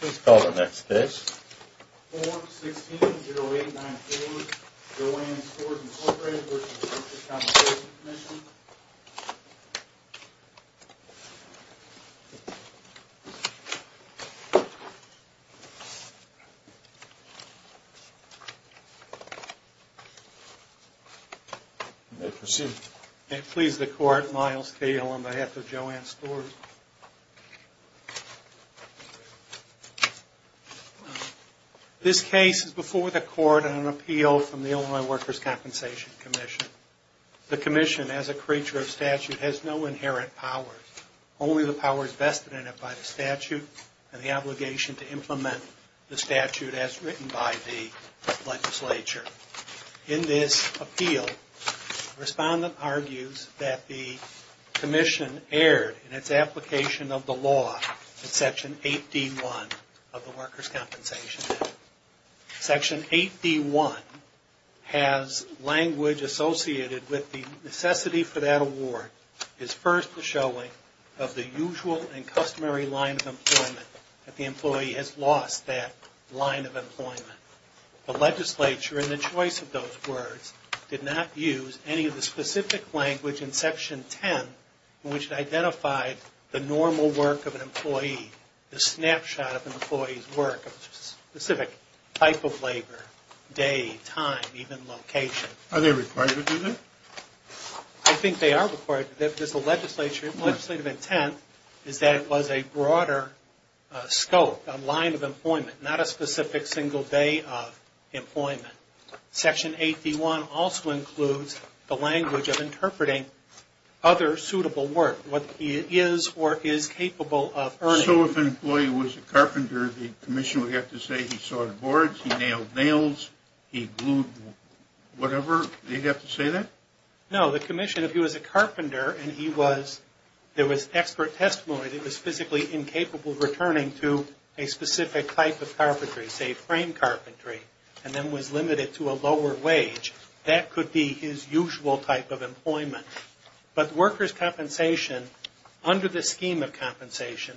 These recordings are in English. Please call the next case. 416-0894, Jo-Ann Stores, Inc. v. Workers' Compensation Comm'n May I proceed? May it please the Court, Miles Kael on behalf of Jo-Ann Stores. This case is before the Court on an appeal from the Illinois Workers' Compensation Commission. The Commission, as a creature of statute, has no inherent powers. Only the powers vested in it by the statute and the obligation to implement the statute as written by the legislature. In this appeal, the respondent argues that the Commission erred in its application of the law in Section 8D.1 of the Workers' Compensation Act. Section 8D.1 has language associated with the necessity for that award is first the showing of the usual and customary line of employment, that the employee has lost that line of employment. The legislature, in the choice of those words, did not use any of the specific language in Section 10 in which it identified the normal work of an employee, the snapshot of an employee's work, a specific type of labor, day, time, even location. Are they required to do that? I think they are required to do that because the legislative intent is that it was a broader scope, a line of employment, not a specific single day of employment. Section 8D.1 also includes the language of interpreting other suitable work, what he is or is capable of earning. So if an employee was a carpenter, the Commission would have to say he sawed boards, he nailed nails, he glued whatever? They'd have to say that? No, the Commission, if he was a carpenter and there was expert testimony that he was physically incapable of returning to a specific type of carpentry, say frame carpentry, and then was limited to a lower wage, that could be his usual type of employment. But workers' compensation, under the scheme of compensation,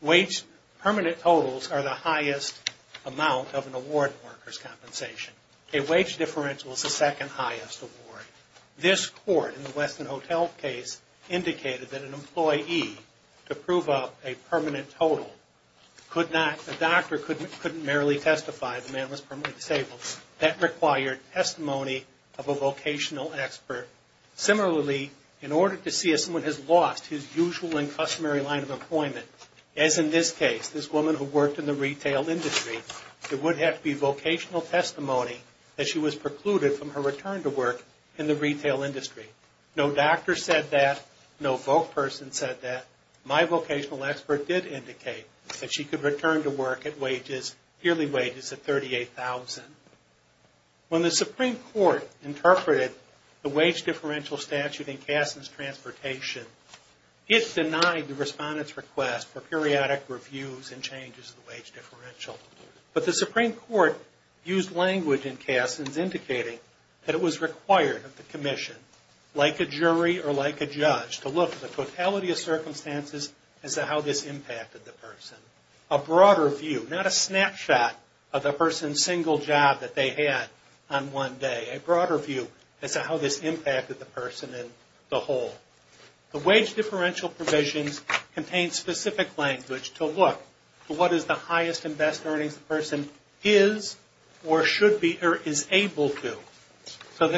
wage permanent totals are the highest amount of an award in workers' compensation. A wage differential is the second highest award. This court, in the Westin Hotel case, indicated that an employee, to prove a permanent total, a doctor couldn't merely testify the man was permanently disabled. That required testimony of a vocational expert. Similarly, in order to see if someone has lost his usual and customary line of employment, as in this case, this woman who worked in the retail industry, it would have to be vocational testimony that she was precluded from her return to work in the retail industry. No doctor said that. No voc person said that. My vocational expert did indicate that she could return to work at wages, yearly wages of $38,000. When the Supreme Court interpreted the wage differential statute in Kasson's transportation, it denied the respondent's request for periodic reviews and changes of the wage differential. But the Supreme Court used language in Kasson's indicating that it was required of the commission, like a jury or like a judge, to look at the totality of circumstances as to how this impacted the person. A broader view, not a snapshot of the person's single job that they had on one day. A broader view as to how this impacted the person and the whole. The wage differential provisions contain specific language to look for what is the highest and best earnings the person is or should be or is able to. So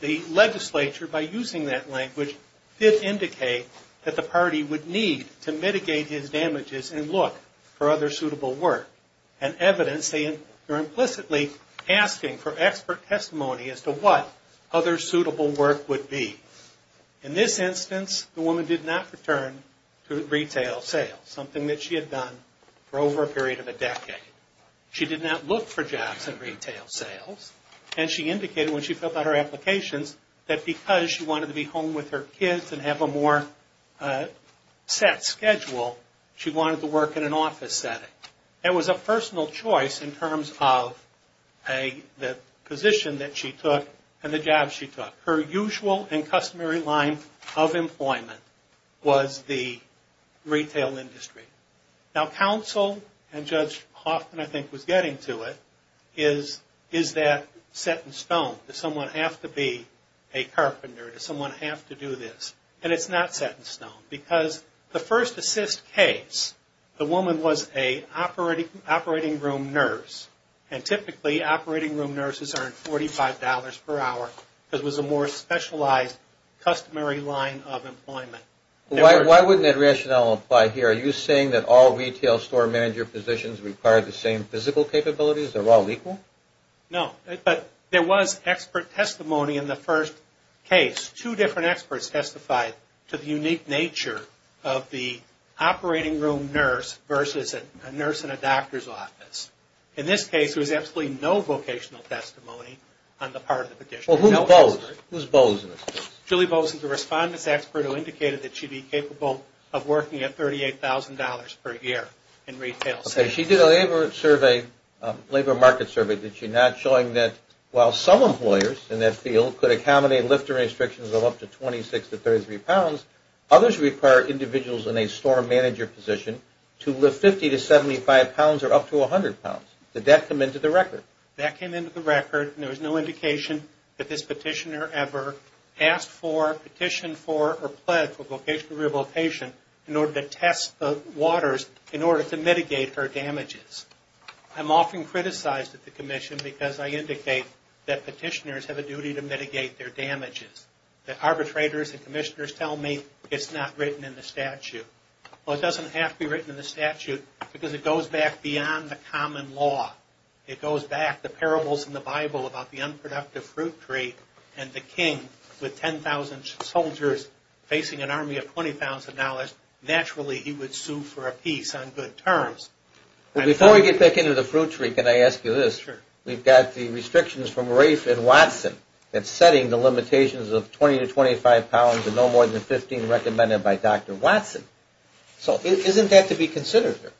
the legislature, by using that language, did indicate that the party would need to mitigate his damages and look for other suitable work. And evidence, they are implicitly asking for expert testimony as to what other suitable work would be. In this instance, the woman did not return to retail sales, something that she had done for over a period of a decade. She did not look for jobs in retail sales, and she indicated when she filled out her applications, that because she wanted to be home with her kids and have a more set schedule, she wanted to work in an office setting. It was a personal choice in terms of the position that she took and the job she took. Her usual and customary line of employment was the retail industry. Now counsel and Judge Hoffman, I think, was getting to it, is that set in stone? Does someone have to be a carpenter? Does someone have to do this? And it's not set in stone, because the first assist case, the woman was an operating room nurse. And typically, operating room nurses earn $45 per hour, because it was a more specialized, customary line of employment. Why wouldn't that rationale apply here? Are you saying that all retail store manager positions require the same physical capabilities? They're all equal? No, but there was expert testimony in the first case. Two different experts testified to the unique nature of the operating room nurse versus a nurse in a doctor's office. In this case, there was absolutely no vocational testimony on the part of the petitioner. Well, who's Bozen? Julie Bozen is a respondent's expert who indicated that she'd be capable of working at $38,000 per year in retail sales. Okay, she did a labor market survey. Did she not, showing that while some employers in that field could accommodate lifter restrictions of up to 26 to 33 pounds, others require individuals in a store manager position to lift 50 to 75 pounds or up to 100 pounds. Did that come into the record? That came into the record, and there was no indication that this petitioner ever asked for, petitioned for, or pled for vocational rehabilitation in order to test the waters in order to mitigate her damages. I'm often criticized at the commission because I indicate that petitioners have a duty to mitigate their damages. The arbitrators and commissioners tell me it's not written in the statute. Well, it doesn't have to be written in the statute because it goes back beyond the common law. It goes back, the parables in the Bible about the unproductive fruit tree and the king with 10,000 soldiers facing an army of $20,000. Naturally, he would sue for a piece on good terms. Before we get back into the fruit tree, can I ask you this? Sure. We've got the restrictions from Rafe and Watson that's setting the limitations of 20 to 25 pounds and no more than 15 recommended by Dr. Watson. So isn't that to be considered here?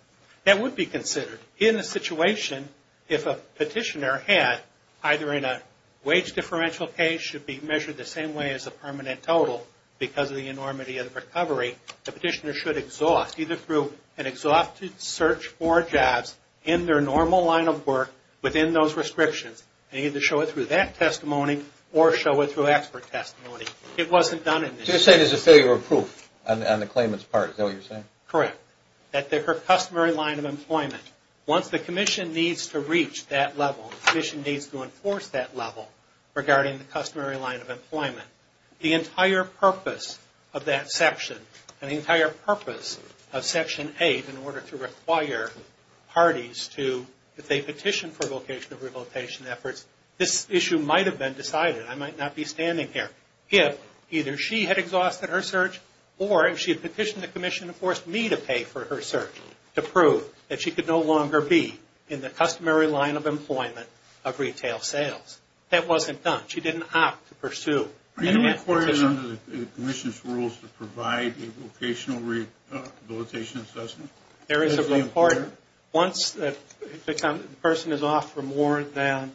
That would be considered. In a situation, if a petitioner had either in a wage differential case, should be measured the same way as a permanent total because of the enormity of the recovery, the petitioner should exhaust either through an exhaustive search for jobs in their normal line of work within those restrictions and either show it through that testimony or show it through expert testimony. It wasn't done in this case. So you're saying there's a failure of proof on the claimant's part? Is that what you're saying? Correct. That their customary line of employment, once the commission needs to reach that level, the commission needs to enforce that level regarding the customary line of employment, the entire purpose of that section and the entire purpose of Section 8 in order to require parties to, if they petition for vocation of revocation efforts, this issue might have been decided. I might not be standing here. If either she had exhausted her search or if she had petitioned the commission to force me to pay for her search to prove that she could no longer be in the customary line of employment of retail sales. That wasn't done. She didn't opt to pursue. Are you required under the commission's rules to provide a vocational rehabilitation assessment? There is a report. Once the person is off for more than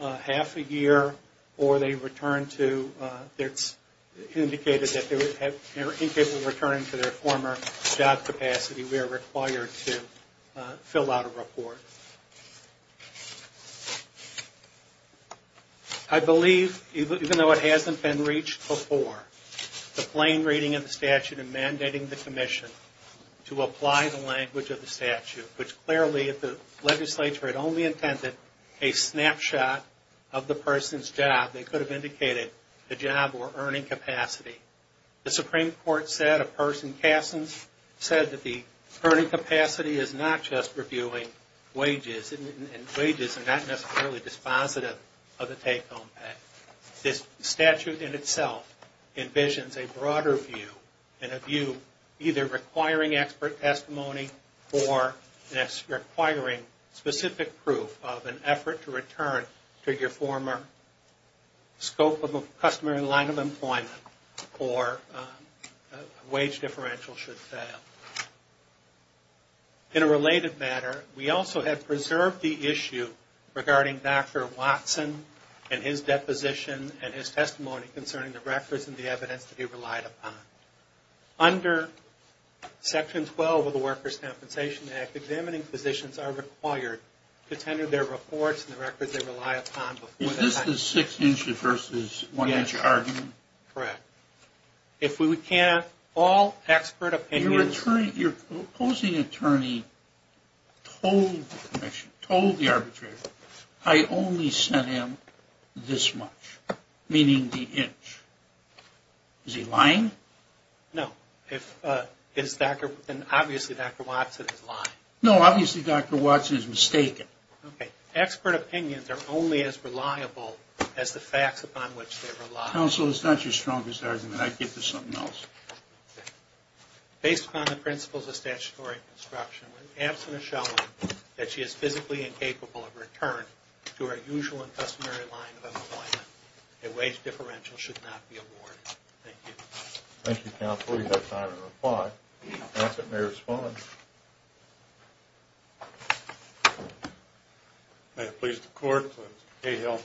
half a year or they return to, it's indicated that in case of returning to their former job capacity, we are required to fill out a report. I believe, even though it hasn't been reached before, the plain reading of the statute and mandating the commission to apply the language of the statute, which clearly if the legislature had only intended a snapshot of the person's job, they could have indicated the job or earning capacity. The Supreme Court said, a person said that the earning capacity is not just reviewing wages and wages are not necessarily dispositive of the take-home pay. This statute in itself envisions a broader view and a view either requiring expert testimony or requiring specific proof of an effort to return to your former scope of the customary line of employment. Or a wage differential should fail. In a related matter, we also have preserved the issue regarding Dr. Watson and his deposition and his testimony concerning the records and the evidence that he relied upon. Under Section 12 of the Workers' Compensation Act, examining physicians are required to tender their reports and the records they rely upon. Is this the six-inch versus one-inch argument? Correct. If we can have all expert opinions... Your opposing attorney told the arbitrator, I only sent him this much, meaning the inch. Is he lying? No. Obviously, Dr. Watson is lying. No, obviously, Dr. Watson is mistaken. Okay. Expert opinions are only as reliable as the facts upon which they rely. Counsel, it's not your strongest argument. I'd get to something else. Based upon the principles of statutory construction, when absent a showing that she is physically incapable of return to her usual and customary line of employment, a wage differential should not be awarded. Thank you. Thank you, counsel. You have time to reply. I ask that you may respond. May it please the Court, Mr. Cahill.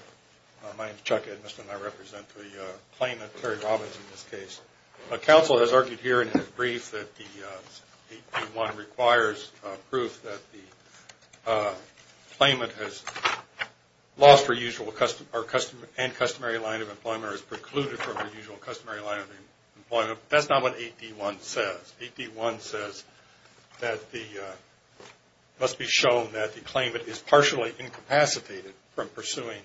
My name is Chuck Edmiston. I represent the claimant, Terry Robbins, in this case. Counsel has argued here in his brief that the 8D1 requires proof that the claimant has lost her usual and customary line of employment or is precluded from her usual and customary line of employment. That's not what 8D1 says. 8D1 says that it must be shown that the claimant is partially incapacitated from pursuing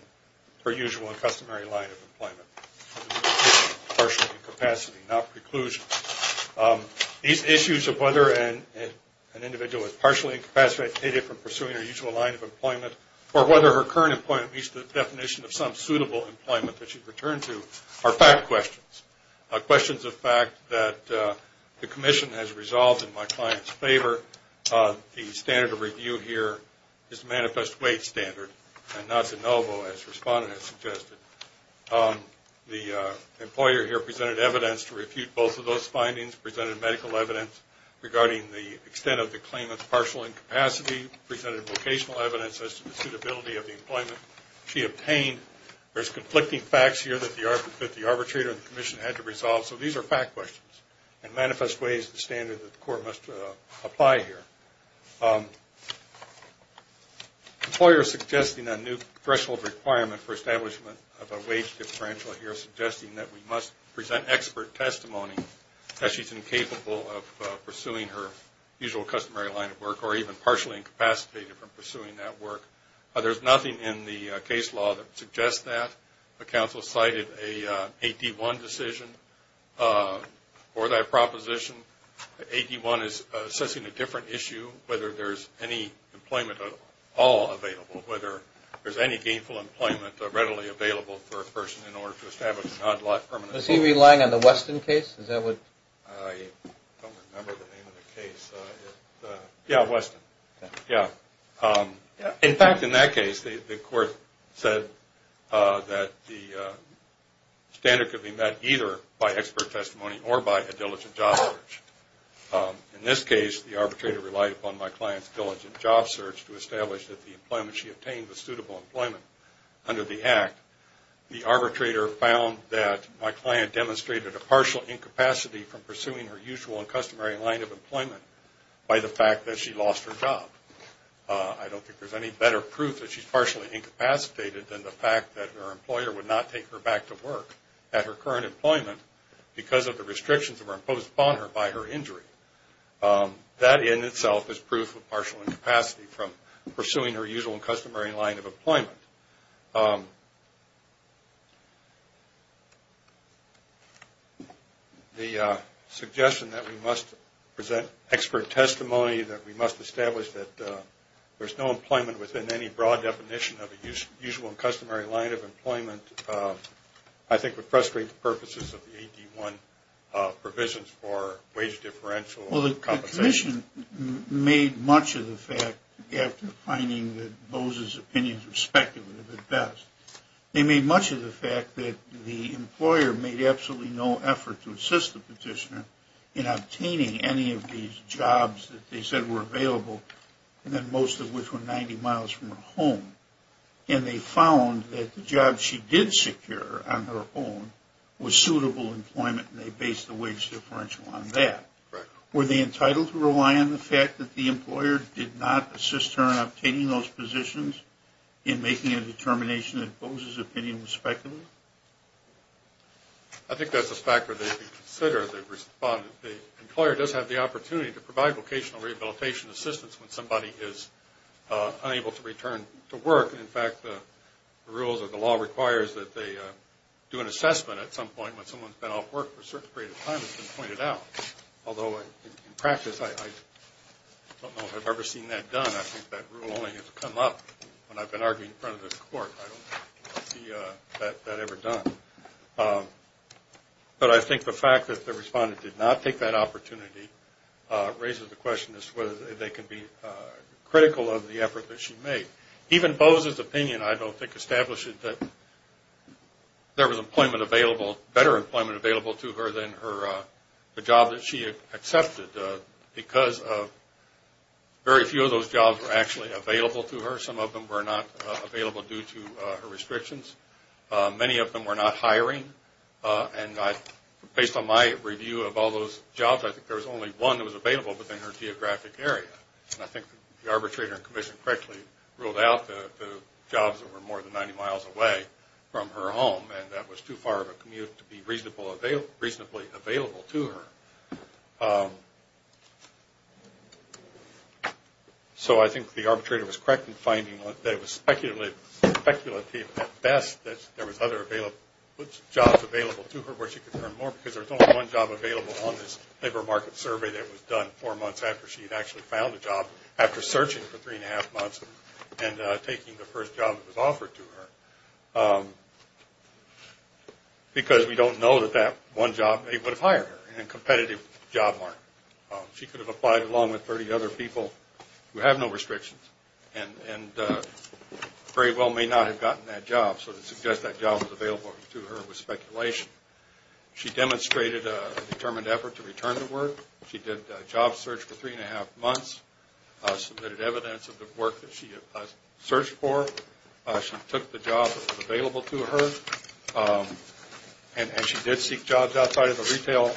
her usual and customary line of employment, partial incapacity, not preclusion. These issues of whether an individual is partially incapacitated from pursuing her usual line of employment or whether her current employment meets the definition of some suitable employment that she's returned to are fact questions, questions of fact that the Commission has resolved in my client's favor. The standard of review here is manifest wage standard and not de novo, as the respondent has suggested. The employer here presented evidence to refute both of those findings, presented medical evidence regarding the extent of the claimant's partial incapacity, presented vocational evidence as to the suitability of the employment she obtained. There's conflicting facts here that the arbitrator and the Commission had to resolve, so these are fact questions and manifest wage is the standard that the Court must apply here. The employer is suggesting a new threshold requirement for establishment of a wage differential here, suggesting that we must present expert testimony that she's incapable of pursuing her usual customary line of work or even partially incapacitated from pursuing that work. There's nothing in the case law that suggests that. The Council cited an AD-1 decision for that proposition. AD-1 is assessing a different issue, whether there's any employment at all available, whether there's any gainful employment readily available for a person in order to establish a non-life permanent home. Was he relying on the Weston case? I don't remember the name of the case. Yeah, Weston. Yeah. In fact, in that case, the Court said that the standard could be met either by expert testimony or by a diligent job search. In this case, the arbitrator relied upon my client's diligent job search to establish that the employment she obtained was suitable employment under the Act. The arbitrator found that my client demonstrated a partial incapacity from pursuing her usual and customary line of employment by the fact that she lost her job. I don't think there's any better proof that she's partially incapacitated than the fact that her employer would not take her back to work at her current employment because of the restrictions that were imposed upon her by her injury. That in itself is proof of partial incapacity from pursuing her usual and customary line of employment. The suggestion that we must present expert testimony, that we must establish that there's no employment within any broad definition of a usual and customary line of employment, I think would frustrate the purposes of the AD-1 provisions for wage differential compensation. The petition made much of the fact, after finding that Bose's opinions were speculative at best, they made much of the fact that the employer made absolutely no effort to assist the petitioner in obtaining any of these jobs that they said were available and that most of which were 90 miles from her home. And they found that the job she did secure on her own was suitable employment and they based the wage differential on that. Were they entitled to rely on the fact that the employer did not assist her in obtaining those positions in making a determination that Bose's opinion was speculative? I think that's a factor they should consider. The employer does have the opportunity to provide vocational rehabilitation assistance when somebody is unable to return to work. In fact, the rules of the law requires that they do an assessment at some point when someone's been off work for a certain period of time has been pointed out. Although in practice, I don't know if I've ever seen that done. I think that rule only has come up when I've been arguing in front of this court. I don't see that ever done. But I think the fact that the respondent did not take that opportunity raises the question as to whether they can be critical of the effort that she made. Even Bose's opinion, I don't think, established that there was employment available, better employment available to her than the job that she accepted because very few of those jobs were actually available to her. Some of them were not available due to her restrictions. Many of them were not hiring. And based on my review of all those jobs, I think there was only one that was available within her geographic area. And I think the arbitrator in commission correctly ruled out the jobs that were more than 90 miles away from her home, and that was too far of a commute to be reasonably available to her. So I think the arbitrator was correct in finding that it was speculative at best that there was other jobs available to her where she could earn more because there was only one job available on this labor market survey that was done four months after she had actually found a job after searching for three and a half months and taking the first job that was offered to her because we don't know that that one job would have hired her in a competitive job market. She could have applied along with 30 other people who have no restrictions and very well may not have gotten that job. So to suggest that job was available to her was speculation. She demonstrated a determined effort to return the work. She did a job search for three and a half months, submitted evidence of the work that she had searched for. She took the job that was available to her. And she did seek jobs outside of the retail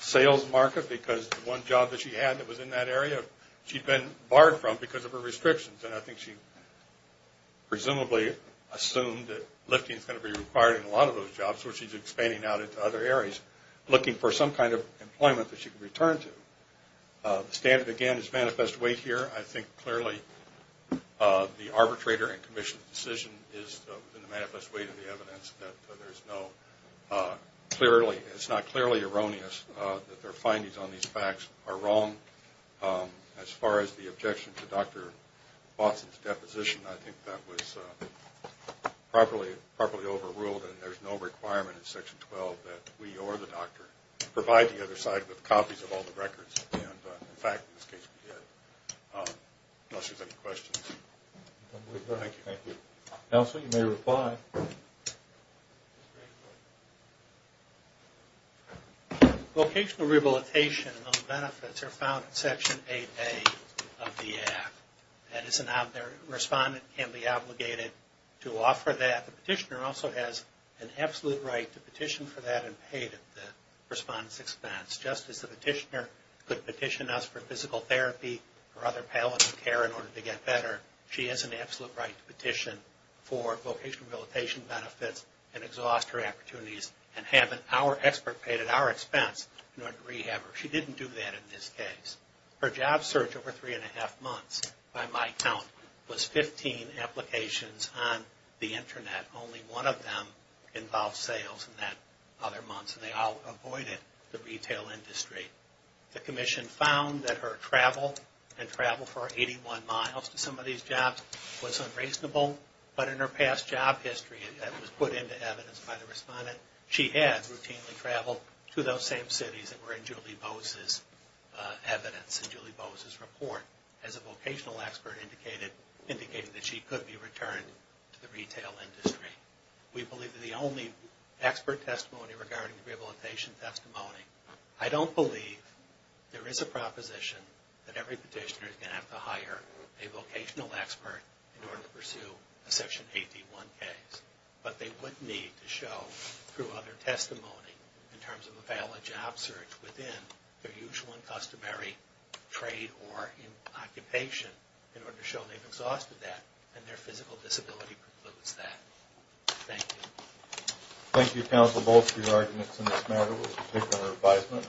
sales market because the one job that she had that was in that area she had been barred from because of her restrictions. And I think she presumably assumed that lifting was going to be required in a lot of those jobs, so she's expanding out into other areas looking for some kind of employment that she can return to. The standard, again, is manifest weight here. I think clearly the arbitrator and commission's decision is in the manifest weight of the evidence. It's not clearly erroneous that their findings on these facts are wrong. As far as the objection to Dr. Watson's deposition, I think that was properly overruled and there's no requirement in Section 12 that we or the doctor provide the other side with copies of all the records. And, in fact, in this case we did. Unless there's any questions. Thank you. Counsel, you may reply. Vocational rehabilitation benefits are found in Section 8A of the Act. That is, a respondent can be obligated to offer that. But the petitioner also has an absolute right to petition for that and pay the respondent's expense. Just as the petitioner could petition us for physical therapy or other palliative care in order to get better, she has an absolute right to petition for vocational rehabilitation benefits and exhaust her opportunities and have our expert pay it at our expense in order to rehab her. She didn't do that in this case. Her job search over three and a half months, by my count, was 15 applications on the Internet. Only one of them involved sales in that other month. So they all avoided the retail industry. The Commission found that her travel and travel for 81 miles to some of these jobs was unreasonable. But in her past job history that was put into evidence by the respondent, she had routinely traveled to those same cities that were in Julie Bose's evidence, in Julie Bose's report, as a vocational expert, indicating that she could be returned to the retail industry. We believe that the only expert testimony regarding the rehabilitation testimony, I don't believe there is a proposition that every petitioner is going to have to hire a vocational expert in order to pursue a Section 81 case. But they would need to show, through other testimony, in terms of a valid job search within their usual and customary trade or occupation in order to show they've exhausted that and their physical disability precludes that. Thank you. Thank you, Counsel Bolts, for your arguments in this matter. We'll take another advisement.